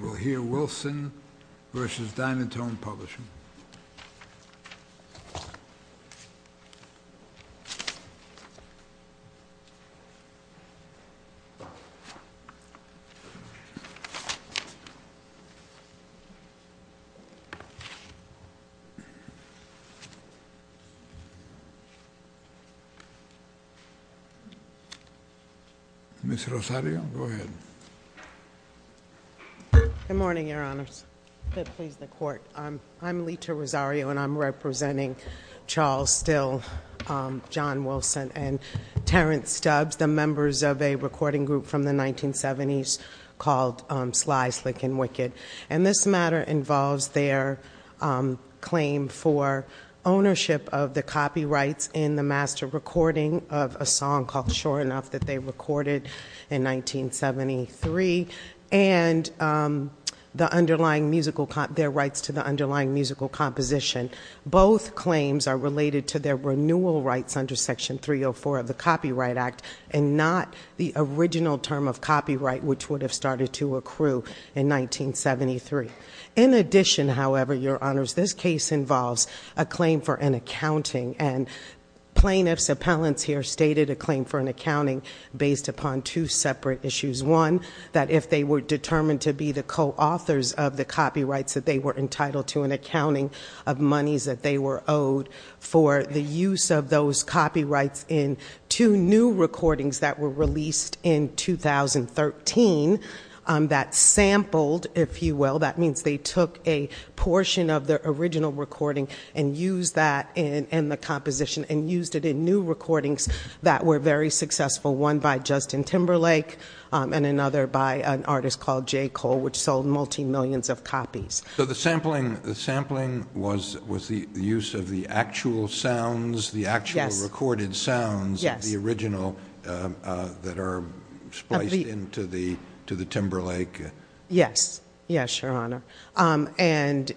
We'll hear Wilson v. Dynatone Publishing. Ms. Rosario, go ahead. Good morning, Your Honors. I'm Lita Rosario, and I'm representing Charles Still, John Wilson, and Terrence Stubbs, the members of a recording group from the 1970s called Sly, Slick, and Wicked. And this matter involves their claim for ownership of the copyrights in the master recording of a song called Sure Enough that they recorded in 1973. And their rights to the underlying musical composition. Both claims are related to their renewal rights under Section 304 of the Copyright Act, and not the original term of copyright, which would have started to accrue in 1973. In addition, however, Your Honors, this case involves a claim for an accounting. And plaintiffs' appellants here stated a claim for an accounting based upon two separate issues. One, that if they were determined to be the co-authors of the copyrights, that they were entitled to an accounting of monies that they were owed for the use of those copyrights in two new recordings that were released in 2013. That sampled, if you will, that means they took a portion of the original recording and used that in the composition and used it in new recordings that were very successful. One by Justin Timberlake, and another by an artist called Jay Cole, which sold multi-millions of copies. So the sampling was the use of the actual sounds, the actual recorded sounds of the original that are spliced into the Timberlake? Yes. Yes, Your Honor. And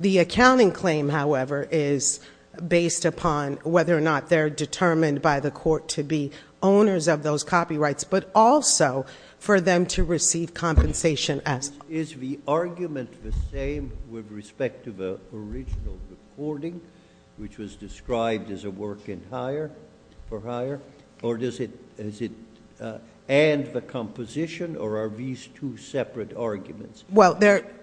the accounting claim, however, is based upon whether or not they're determined by the court to be owners of those copyrights, but also for them to receive compensation as well. Is the argument the same with respect to the original recording, which was described as a work for hire? Or does it end the composition, or are these two separate arguments?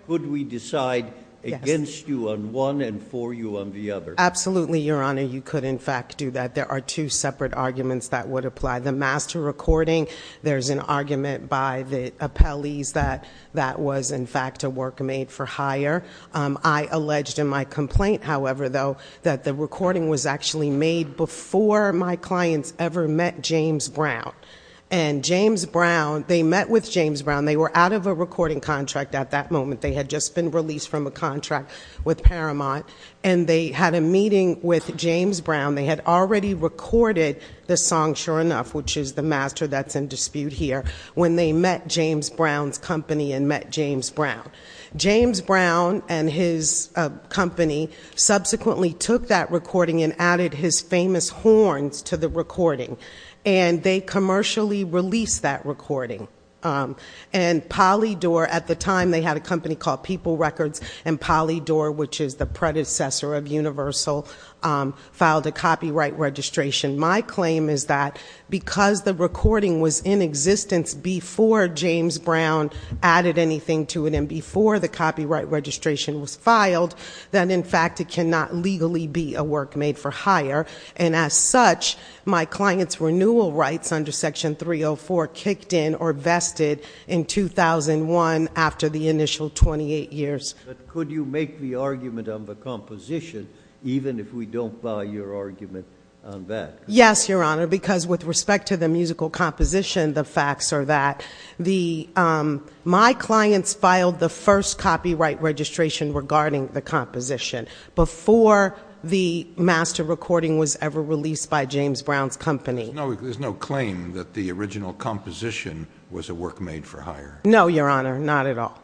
Could we decide against you on one and for you on the other? Absolutely, Your Honor. You could, in fact, do that. There are two separate arguments that would apply. The master recording, there's an argument by the appellees that that was, in fact, a work made for hire. I alleged in my complaint, however, though, that the recording was actually made before my clients ever met James Brown. And James Brown, they met with James Brown. They were out of a recording contract at that moment. They had just been released from a contract with Paramount. And they had a meeting with James Brown. They had already recorded the song Sure Enough, which is the master that's in dispute here, when they met James Brown's company and met James Brown. James Brown and his company subsequently took that recording and added his famous horns to the recording. And they commercially released that recording. And Polydor, at the time, they had a company called People Records. And Polydor, which is the predecessor of Universal, filed a copyright registration. My claim is that because the recording was in existence before James Brown added anything to it and before the copyright registration was filed, that, in fact, it cannot legally be a work made for hire. And as such, my client's renewal rights under Section 304 kicked in or vested in 2001 after the initial 28 years. But could you make the argument on the composition even if we don't buy your argument on that? Yes, Your Honor, because with respect to the musical composition, the facts are that my clients filed the first copyright registration regarding the composition before the master recording was ever released by James Brown's company. There's no claim that the original composition was a work made for hire? No, Your Honor, not at all,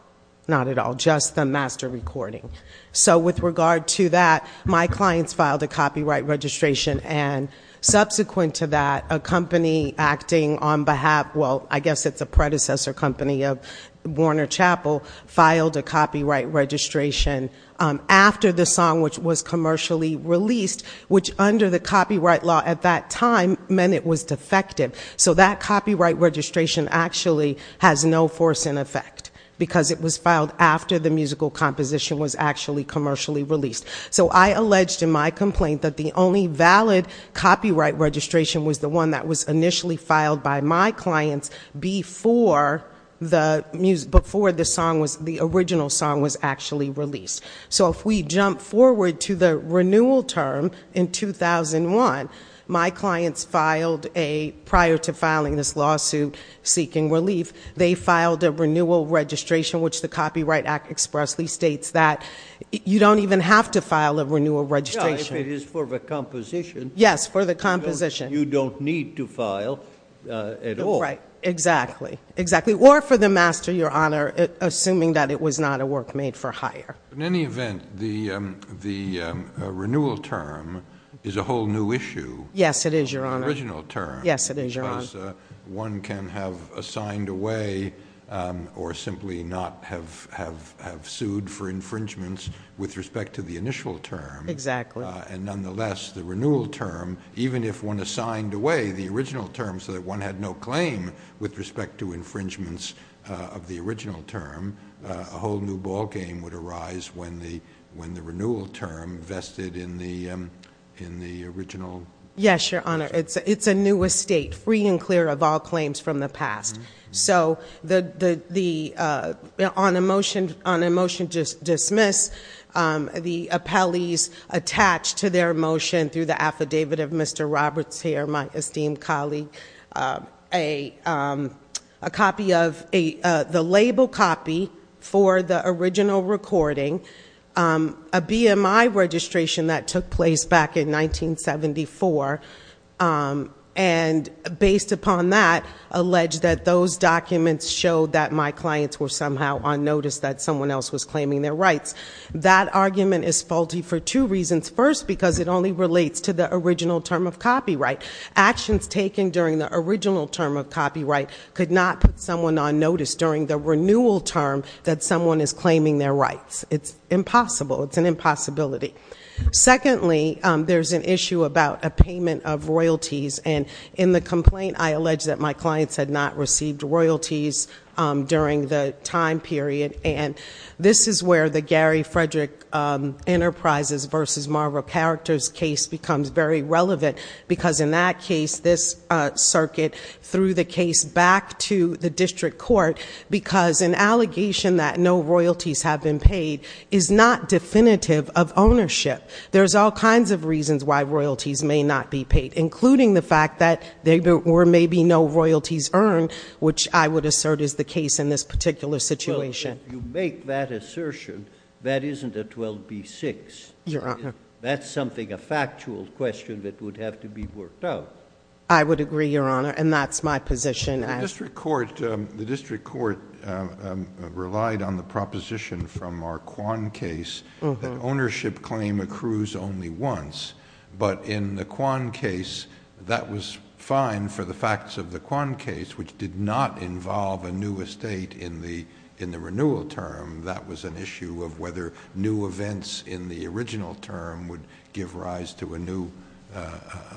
not at all, just the master recording. So with regard to that, my clients filed a copyright registration. And subsequent to that, a company acting on behalf, well, I guess it's a predecessor company of Warner Chapel, filed a copyright registration. After the song, which was commercially released, which under the copyright law at that time meant it was defective. So that copyright registration actually has no force in effect because it was filed after the musical composition was actually commercially released. So I alleged in my complaint that the only valid copyright registration was the one that was initially filed by my clients before the music, before the original song was actually released. So if we jump forward to the renewal term in 2001, my clients filed a, prior to filing this lawsuit seeking relief, they filed a renewal registration which the Copyright Act expressly states that you don't even have to file a renewal registration. Yeah, if it is for the composition. Yes, for the composition. You don't need to file at all. Right, exactly. Exactly. Or for the master, Your Honor, assuming that it was not a work made for hire. In any event, the renewal term is a whole new issue. Yes, it is, Your Honor. The original term. Yes, it is, Your Honor. Because one can have assigned away or simply not have sued for infringements with respect to the initial term. Exactly. And nonetheless, the renewal term, even if one assigned away the original term so that one had no claim with respect to infringements of the original term, a whole new ball game would arise when the renewal term vested in the original. Yes, Your Honor. It's a new estate, free and clear of all claims from the past. So on a motion to dismiss, the appellees attached to their motion through the affidavit of Mr. Roberts here, my esteemed colleague, a copy of the label copy for the original recording, a BMI registration that took place back in 1974. And based upon that, alleged that those documents showed that my clients were somehow on notice that someone else was claiming their rights. That argument is faulty for two reasons. First, because it only relates to the original term of copyright. Actions taken during the original term of copyright could not put someone on notice during the renewal term that someone is claiming their rights. It's impossible. It's an impossibility. Secondly, there's an issue about a payment of royalties. And in the complaint, I allege that my clients had not received royalties during the time period. And this is where the Gary Frederick Enterprises versus Marvel Characters case becomes very relevant. Because in that case, this circuit threw the case back to the district court. Because an allegation that no royalties have been paid is not definitive of ownership. There's all kinds of reasons why royalties may not be paid, including the fact that there were maybe no royalties earned, which I would assert is the case in this particular situation. Well, if you make that assertion, that isn't a 12b-6. Your Honor. That's something, a factual question that would have to be worked out. I would agree, Your Honor, and that's my position. The district court relied on the proposition from our Kwan case that ownership claim accrues only once. But in the Kwan case, that was fine for the facts of the Kwan case, which did not involve a new estate in the renewal term. That was an issue of whether new events in the original term would give rise to a new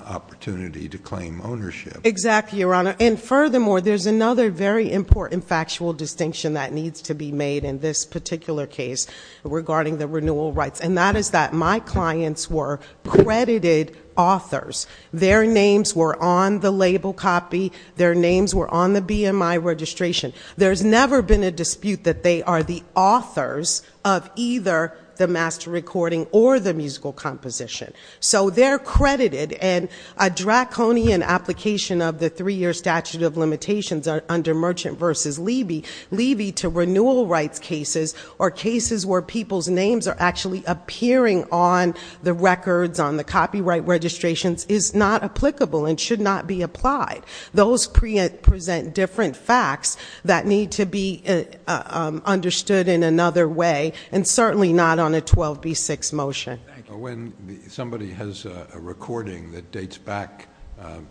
opportunity to claim ownership. Exactly, Your Honor. And furthermore, there's another very important factual distinction that needs to be made in this particular case regarding the renewal rights. And that is that my clients were credited authors. Their names were on the label copy. Their names were on the BMI registration. There's never been a dispute that they are the authors of either the master recording or the musical composition. So they're credited and a draconian application of the three year statute of limitations under merchant versus levy, levy to renewal rights cases or cases where people's names are actually appearing on the records, on the copyright registrations is not applicable and should not be applied. Those present different facts that need to be understood in another way and certainly not on a 12b-6 motion. When somebody has a recording that dates back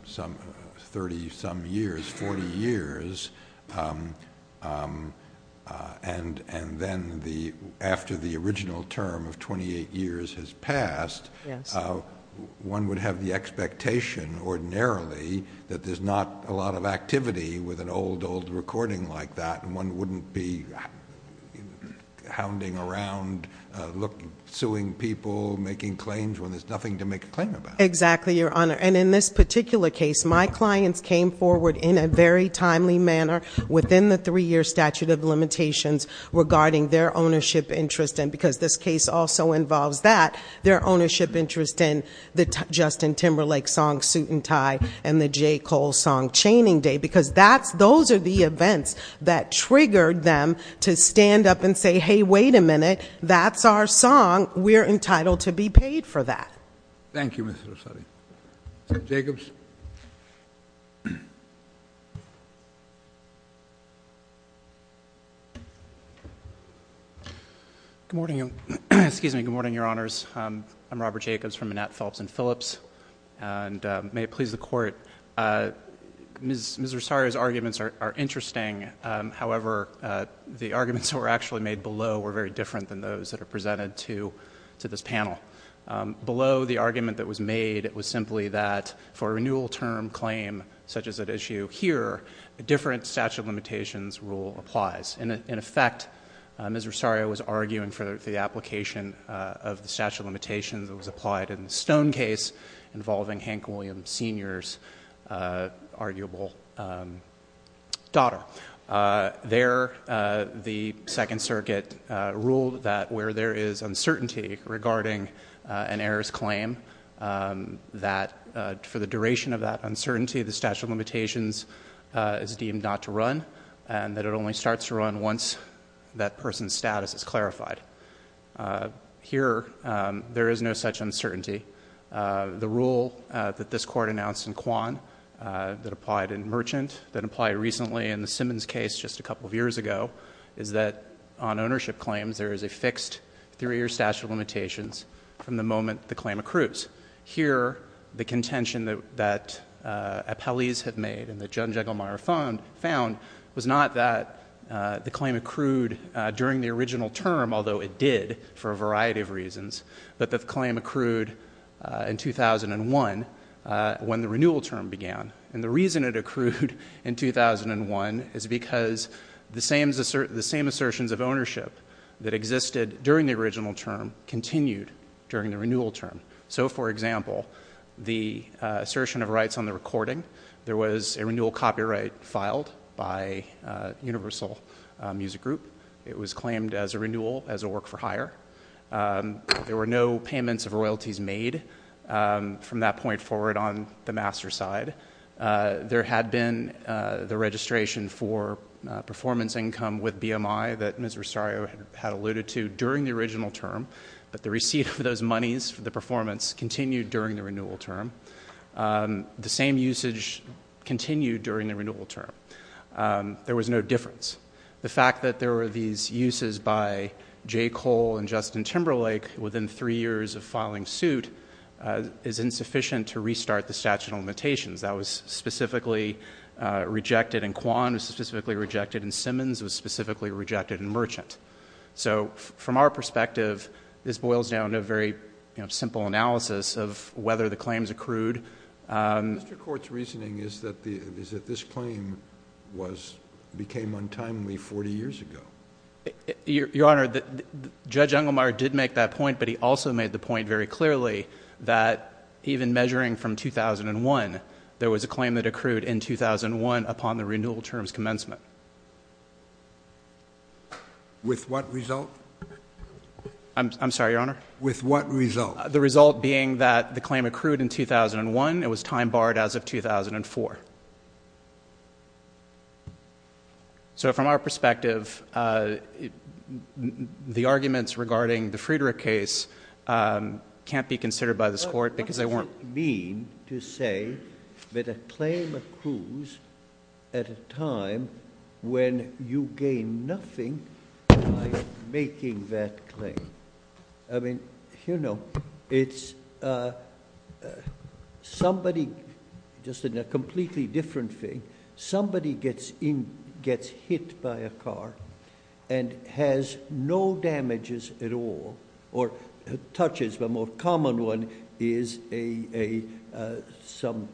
some 30 some years, 40 years, and then after the original term of 28 years has passed, one would have the expectation ordinarily that there's not a lot of activity with an old, old recording like that. And one wouldn't be hounding around, suing people, making claims when there's nothing to make a claim about. Exactly, Your Honor. And in this particular case, my clients came forward in a very timely manner within the three year statute of limitations regarding their ownership interest. And because this case also involves that, their ownership interest in the Justin Timberlake song, Suit and Tie, and the J. Cole song, Chaining Day. Because those are the events that triggered them to stand up and say, hey, wait a minute. That's our song. We're entitled to be paid for that. Thank you, Mr. Rosario. Mr. Jacobs. Good morning, Your Honors. I'm Robert Jacobs from Manette, Phelps & Phillips. And may it please the Court, Ms. Rosario's arguments are interesting. However, the arguments that were actually made below were very different than those that are presented to this panel. Below the argument that was made, it was simply that for a renewal term claim such as at issue here, a different statute of limitations rule applies. In effect, Ms. Rosario was arguing for the application of the statute of limitations that was applied in the Stone case, involving Hank Williams Sr.'s arguable daughter. There, the Second Circuit ruled that where there is uncertainty regarding an heiress claim, that for the duration of that uncertainty, the statute of limitations is deemed not to run, and that it only starts to run once that person's status is clarified. Here, there is no such uncertainty. The rule that this Court announced in Quan that applied in Merchant, that applied recently in the Simmons case just a couple of years ago, is that on ownership claims, there is a fixed three-year statute of limitations from the moment the claim accrues. Here, the contention that appellees have made and that John Jegelmeyer found was not that the claim accrued during the original term, although it did for a variety of reasons, but that the claim accrued in 2001 when the renewal term began. And the reason it accrued in 2001 is because the same assertions of ownership that existed during the original term continued during the renewal term. So, for example, the assertion of rights on the recording, there was a renewal copyright filed by Universal Music Group. It was claimed as a renewal, as a work-for-hire. There were no payments of royalties made from that point forward on the master's side. There had been the registration for performance income with BMI that Ms. Rosario had alluded to during the original term, but the receipt of those monies for the performance continued during the renewal term. The same usage continued during the renewal term. There was no difference. The fact that there were these uses by J. Cole and Justin Timberlake within three years of filing suit is insufficient to restart the statute of limitations. That was specifically rejected, and Kwan was specifically rejected, and Simmons was specifically rejected, and Merchant. So, from our perspective, this boils down to a very simple analysis of whether the claims accrued. Mr. Court's reasoning is that this claim became untimely 40 years ago. Your Honor, Judge Unglemeyer did make that point, but he also made the point very clearly that even measuring from 2001, there was a claim that accrued in 2001 upon the renewal term's commencement. With what result? I'm sorry, Your Honor? With what result? The result being that the claim accrued in 2001. It was time-barred as of 2004. So, from our perspective, the arguments regarding the Friedrich case can't be considered by this Court because they weren't... What does it mean to say that a claim accrues at a time when you gain nothing by making that claim? I mean, you know, it's somebody... just a completely different thing. Somebody gets hit by a car and has no damages at all, or touches. The more common one is some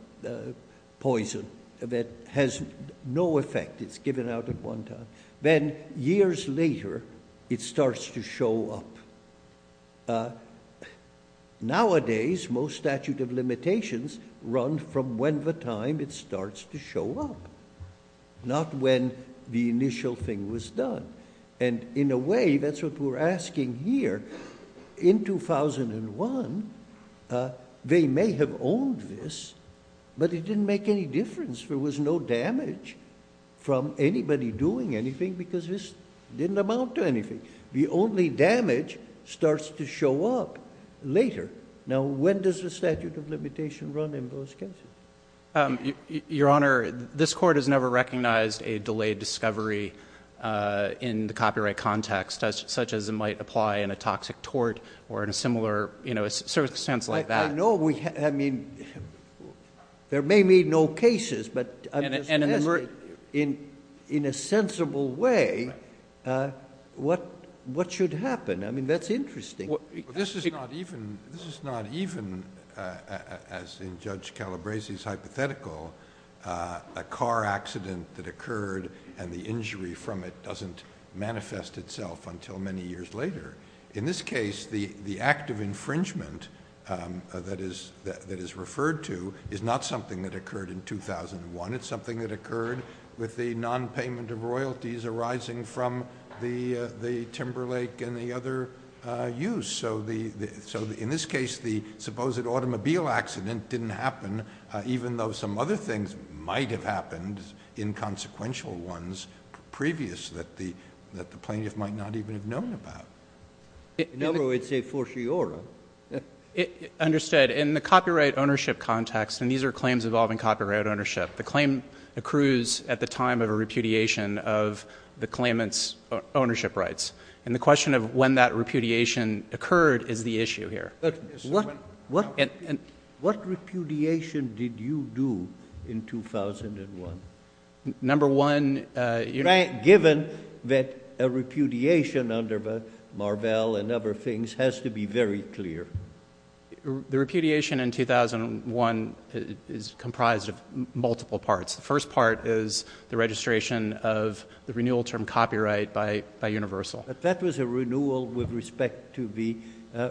poison that has no effect. It's given out at one time. Then, years later, it starts to show up. Nowadays, most statute of limitations run from when the time it starts to show up, not when the initial thing was done. And, in a way, that's what we're asking here. In 2001, they may have owned this, but it didn't make any difference. There was no damage from anybody doing anything because this didn't amount to anything. The only damage starts to show up later. Now, when does the statute of limitation run in those cases? Your Honor, this Court has never recognized a delayed discovery in the copyright context, such as it might apply in a toxic tort or in a similar circumstance like that. I know. I mean, there may be no cases, but in a sensible way, what should happen? I mean, that's interesting. This is not even, as in Judge Calabresi's hypothetical, a car accident that occurred and the injury from it doesn't manifest itself until many years later. In this case, the act of infringement that is referred to is not something that occurred in 2001. It's something that occurred with the nonpayment of royalties arising from the Timberlake and the other use. So, in this case, the supposed automobile accident didn't happen, even though some other things might have happened, inconsequential ones, previous that the plaintiff might not even have known about. In other words, it's a fortiori. Understood. In the copyright ownership context, and these are claims involving copyright ownership, the claim accrues at the time of a repudiation of the claimant's ownership rights. And the question of when that repudiation occurred is the issue here. But what repudiation did you do in 2001? Number one, you know— Given that a repudiation under Marvell and other things has to be very clear. The repudiation in 2001 is comprised of multiple parts. The first part is the registration of the renewal term copyright by Universal. But that was a renewal with respect to the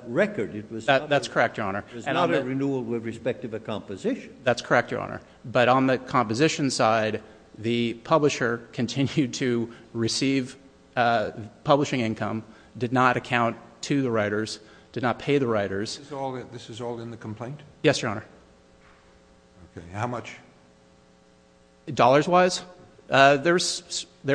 record. That's correct, Your Honor. It was not a renewal with respect to the composition. That's correct, Your Honor. But on the composition side, the publisher continued to receive publishing income, did not account to the writers, did not pay the writers. This is all in the complaint? Yes, Your Honor. How much? Dollars-wise? There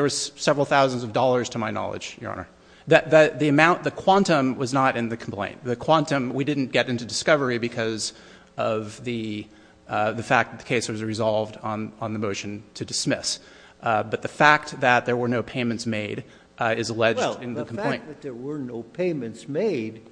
was several thousands of dollars, to my knowledge, Your Honor. The amount, the quantum, was not in the complaint. The quantum, we didn't get into discovery because of the fact that the case was resolved on the motion to dismiss. But the fact that there were no payments made is alleged in the complaint. The fact that there were no payments made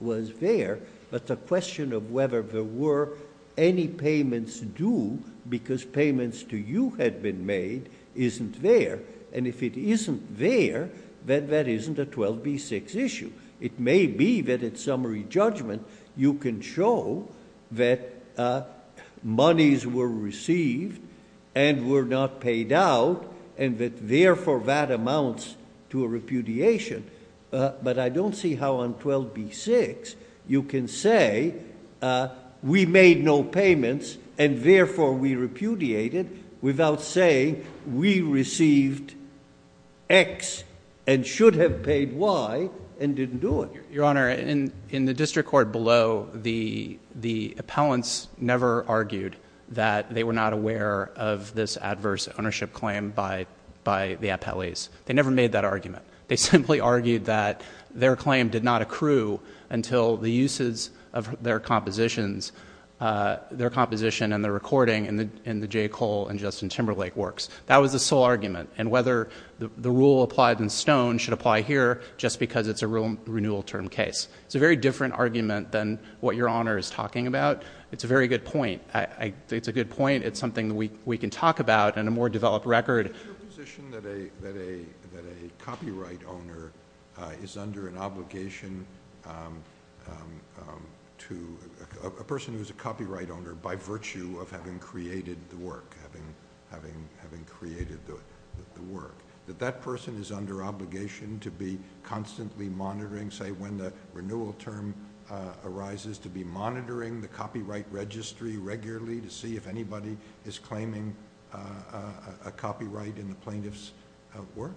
was there, but the question of whether there were any payments due because payments to you had been made isn't there. And if it isn't there, then that isn't a 12B6 issue. It may be that at summary judgment you can show that monies were received and were not paid out and that, therefore, that amounts to a repudiation. But I don't see how on 12B6 you can say we made no payments and, therefore, we repudiated without saying we received X and should have paid Y and didn't do it. Your Honor, in the district court below, the appellants never argued that they were not aware of this adverse ownership claim by the appellees. They simply argued that their claim did not accrue until the uses of their compositions, their composition and their recording in the J. Cole and Justin Timberlake works. That was the sole argument, and whether the rule applied in Stone should apply here just because it's a renewal term case. It's a very different argument than what Your Honor is talking about. It's a very good point. It's a good point. It's something we can talk about in a more developed record. Is it your position that a copyright owner is under an obligation to a person who is a copyright owner by virtue of having created the work? Having created the work. That that person is under obligation to be constantly monitoring, say, when the renewal term arises, to be monitoring the copyright registry regularly to see if anybody is claiming a copyright in the plaintiff's work?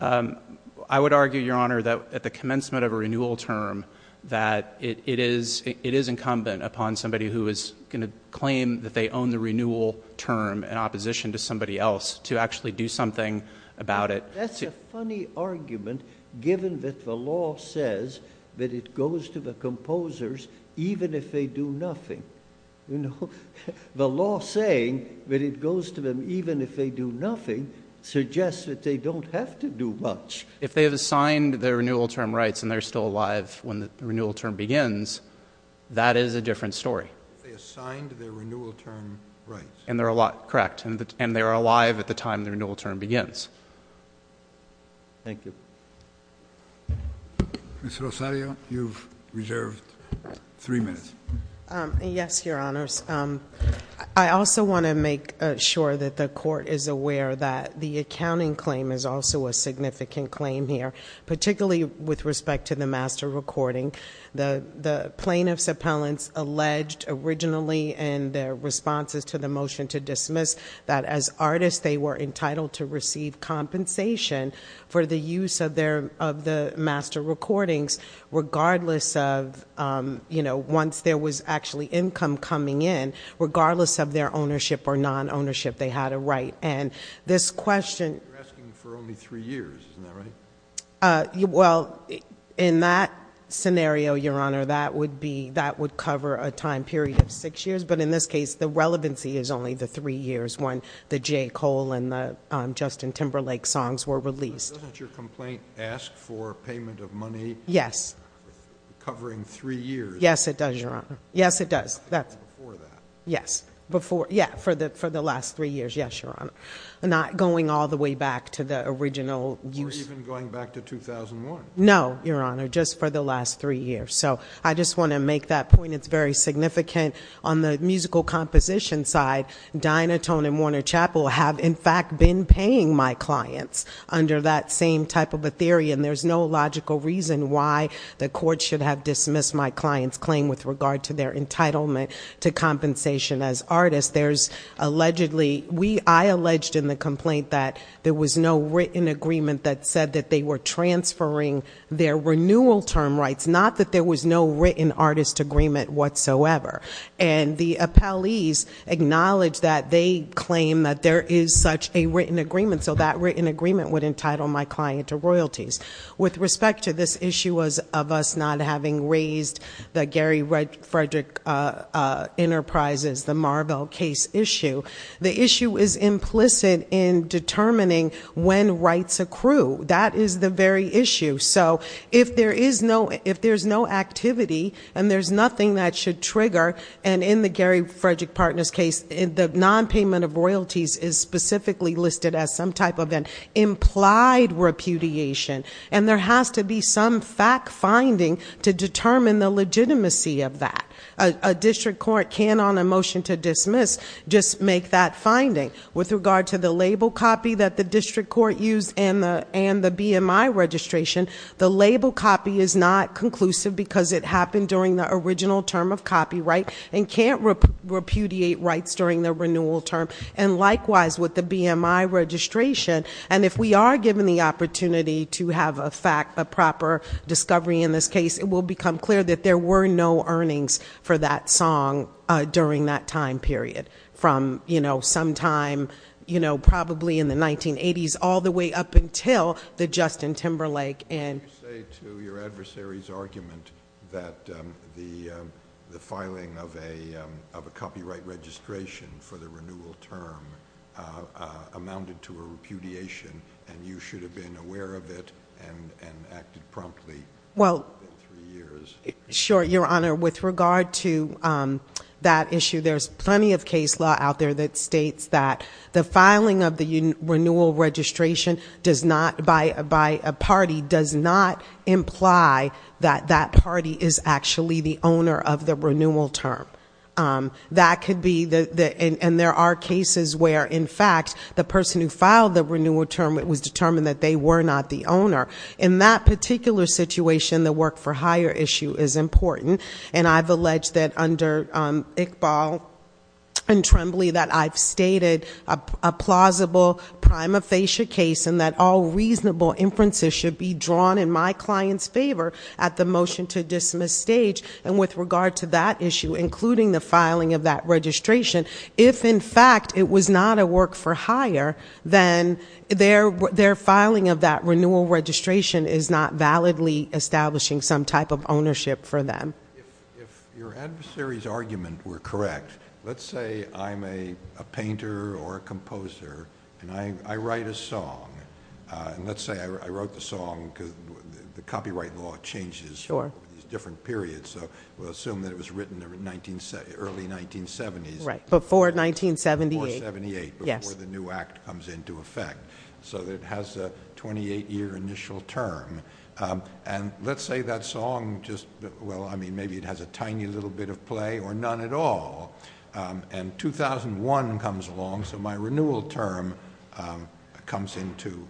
I would argue, Your Honor, that at the commencement of a renewal term that it is incumbent upon somebody who is going to claim that they own the renewal term in opposition to somebody else to actually do something about it. That's a funny argument given that the law says that it goes to the composers even if they do nothing. The law saying that it goes to them even if they do nothing suggests that they don't have to do much. If they have assigned their renewal term rights and they're still alive when the renewal term begins, that is a different story. They assigned their renewal term rights. Correct. And they're alive at the time the renewal term begins. Thank you. Ms. Rosario, you've reserved three minutes. Yes, Your Honors. I also want to make sure that the court is aware that the accounting claim is also a significant claim here, particularly with respect to the master recording. The plaintiff's appellants alleged originally in their responses to the motion to dismiss that as artists they were entitled to receive compensation for the use of the master recordings regardless of, you know, once there was actually income coming in, regardless of their ownership or non-ownership, they had a right. And this question... You're asking for only three years. Isn't that right? Well, in that scenario, Your Honor, that would be, that would cover a time period of six years. But in this case, the relevancy is only the three years when the Jay Cole and the Justin Timberlake songs were released. Doesn't your complaint ask for payment of money? Yes. Covering three years. Yes, it does, Your Honor. Yes, it does. That's before that. Yes. Yeah, for the last three years. Yes, Your Honor. Not going all the way back to the original use. Not even going back to 2001. No, Your Honor, just for the last three years. So, I just want to make that point. It's very significant. On the musical composition side, Dynatone and Warner Chapel have, in fact, been paying my clients under that same type of a theory. And there's no logical reason why the court should have dismissed my client's claim with regard to their entitlement to compensation as artists. There's allegedly, I alleged in the complaint that there was no written agreement that said that they were transferring their renewal term rights. Not that there was no written artist agreement whatsoever. And the appellees acknowledged that they claim that there is such a written agreement. So that written agreement would entitle my client to royalties. With respect to this issue of us not having raised the Gary Frederick Enterprises, the Marvell case issue. The issue is implicit in determining when rights accrue. That is the very issue. So, if there's no activity and there's nothing that should trigger, and in the Gary Frederick Partners case, the non-payment of royalties is specifically listed as some type of an implied repudiation. And there has to be some fact finding to determine the legitimacy of that. A district court can, on a motion to dismiss, just make that finding. With regard to the label copy that the district court used and the BMI registration, the label copy is not conclusive because it happened during the original term of copyright. And can't repudiate rights during the renewal term. And likewise with the BMI registration. And if we are given the opportunity to have a proper discovery in this case, it will become clear that there were no earnings for that song during that time period. From, you know, sometime, you know, probably in the 1980s all the way up until the Justin Timberlake. Can you say to your adversary's argument that the filing of a copyright registration for the renewal term amounted to a repudiation and you should have been aware of it and acted promptly? Well, sure, Your Honor. With regard to that issue, there's plenty of case law out there that states that the filing of the renewal registration does not, by a party, does not imply that that party is actually the owner of the renewal term. That could be, and there are cases where, in fact, the person who filed the renewal term was determined that they were not the owner. In that particular situation, the work for hire issue is important. And I've alleged that under Iqbal and Tremblay that I've stated a plausible prima facie case and that all reasonable inferences should be drawn in my client's favor at the motion to dismiss stage. And with regard to that issue, including the filing of that registration, if, in fact, it was not a work for hire, then their filing of that renewal registration is not validly establishing some type of ownership for them. If your adversary's argument were correct, let's say I'm a painter or a composer and I write a song. And let's say I wrote the song because the copyright law changes over these different periods. So we'll assume that it was written in the early 1970s. Right, before 1978. Before 1978, before the new act comes into effect. So it has a 28-year initial term. And let's say that song just, well, I mean, maybe it has a tiny little bit of play or none at all. And 2001 comes along, so my renewal term comes into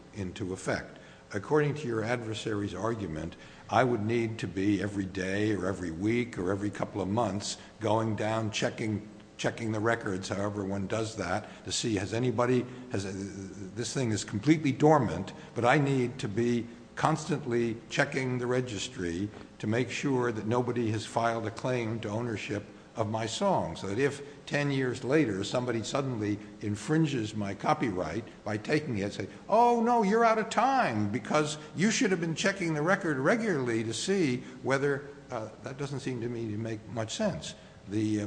effect. According to your adversary's argument, I would need to be every day or every week or every couple of months going down checking the records, however one does that, to see has anybody, this thing is completely dormant, but I need to be constantly checking the registry to make sure that nobody has filed a claim to ownership of my song. So that if 10 years later somebody suddenly infringes my copyright by taking it and saying, oh, no, you're out of time because you should have been checking the record regularly to see whether, that doesn't seem to me to make much sense. The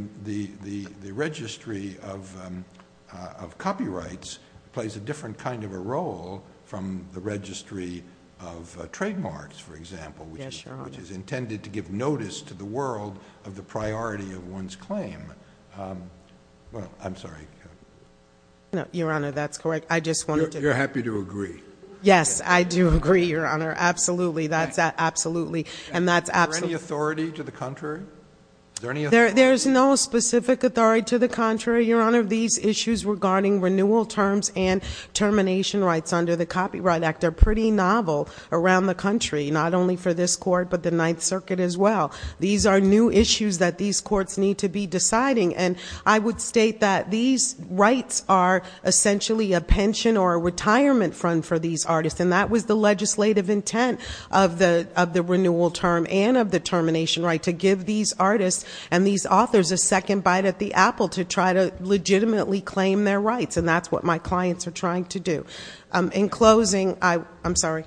registry of copyrights plays a different kind of a role from the registry of trademarks, for example, which is intended to give notice to the world of the priority of one's claim. Well, I'm sorry. Your Honor, that's correct. I just wanted to. You're happy to agree. Yes, I do agree, Your Honor. Absolutely. That's absolutely. And that's absolutely. Is there any authority to the contrary? Is there any authority? There's no specific authority to the contrary, Your Honor. These issues regarding renewal terms and termination rights under the Copyright Act are pretty novel around the country, not only for this Court but the Ninth Circuit as well. These are new issues that these courts need to be deciding, and I would state that these rights are essentially a pension or a retirement fund for these artists, and that was the legislative intent of the renewal term and of the termination right, to give these artists and these authors a second bite at the apple to try to legitimately claim their rights, and that's what my clients are trying to do. In closing, I'm sorry.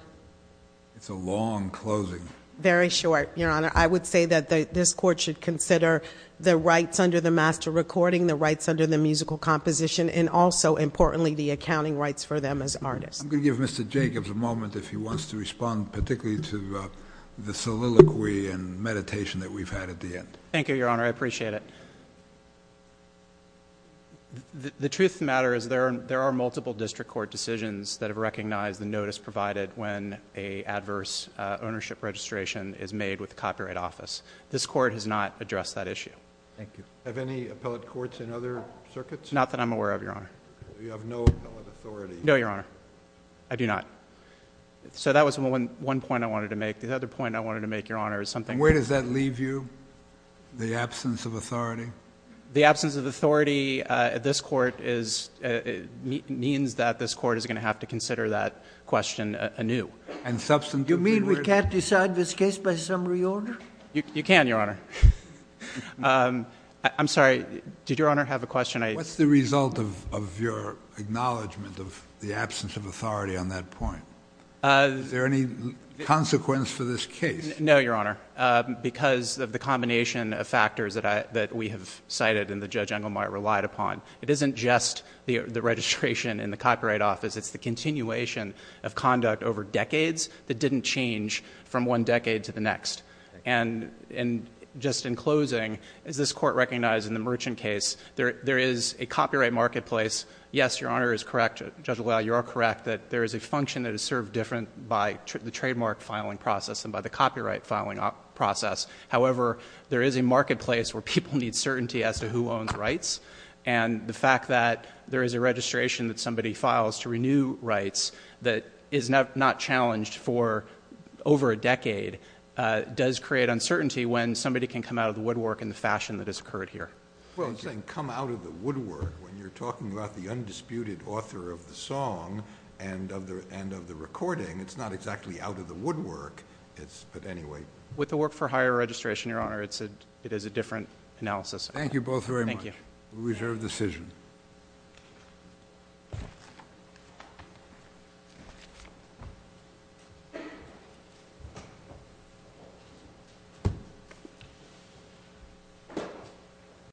It's a long closing. Very short, Your Honor. I would say that this Court should consider the rights under the master recording, the rights under the musical composition, and also, importantly, the accounting rights for them as artists. I'm going to give Mr. Jacobs a moment if he wants to respond particularly to the soliloquy and meditation that we've had at the end. Thank you, Your Honor. I appreciate it. The truth of the matter is there are multiple district court decisions that have recognized the notice provided when an adverse ownership registration is made with the Copyright Office. This Court has not addressed that issue. Thank you. Have any appellate courts in other circuits? Not that I'm aware of, Your Honor. You have no appellate authority. No, Your Honor. I do not. So that was one point I wanted to make. The other point I wanted to make, Your Honor, is something— Where does that leave you, the absence of authority? The absence of authority means that this Court is going to have to consider that question anew. You mean we can't decide this case by summary order? You can, Your Honor. I'm sorry. Did Your Honor have a question? What's the result of your acknowledgment of the absence of authority on that point? Is there any consequence for this case? No, Your Honor. Because of the combination of factors that we have cited and that Judge Engelmeyer relied upon. It isn't just the registration in the Copyright Office. It's the continuation of conduct over decades that didn't change from one decade to the next. And just in closing, as this Court recognized in the Merchant case, there is a copyright marketplace. Yes, Your Honor is correct. Judge LaValle, you are correct that there is a function that is served different by the trademark filing process than by the copyright filing process. However, there is a marketplace where people need certainty as to who owns rights. And the fact that there is a registration that somebody files to renew rights that is not challenged for over a decade does create uncertainty when somebody can come out of the woodwork in the fashion that has occurred here. Well, I'm saying come out of the woodwork when you're talking about the undisputed author of the song and of the recording. It's not exactly out of the woodwork, but anyway. With the work for higher registration, Your Honor, it is a different analysis. Thank you both very much. Thank you. We reserve the decision.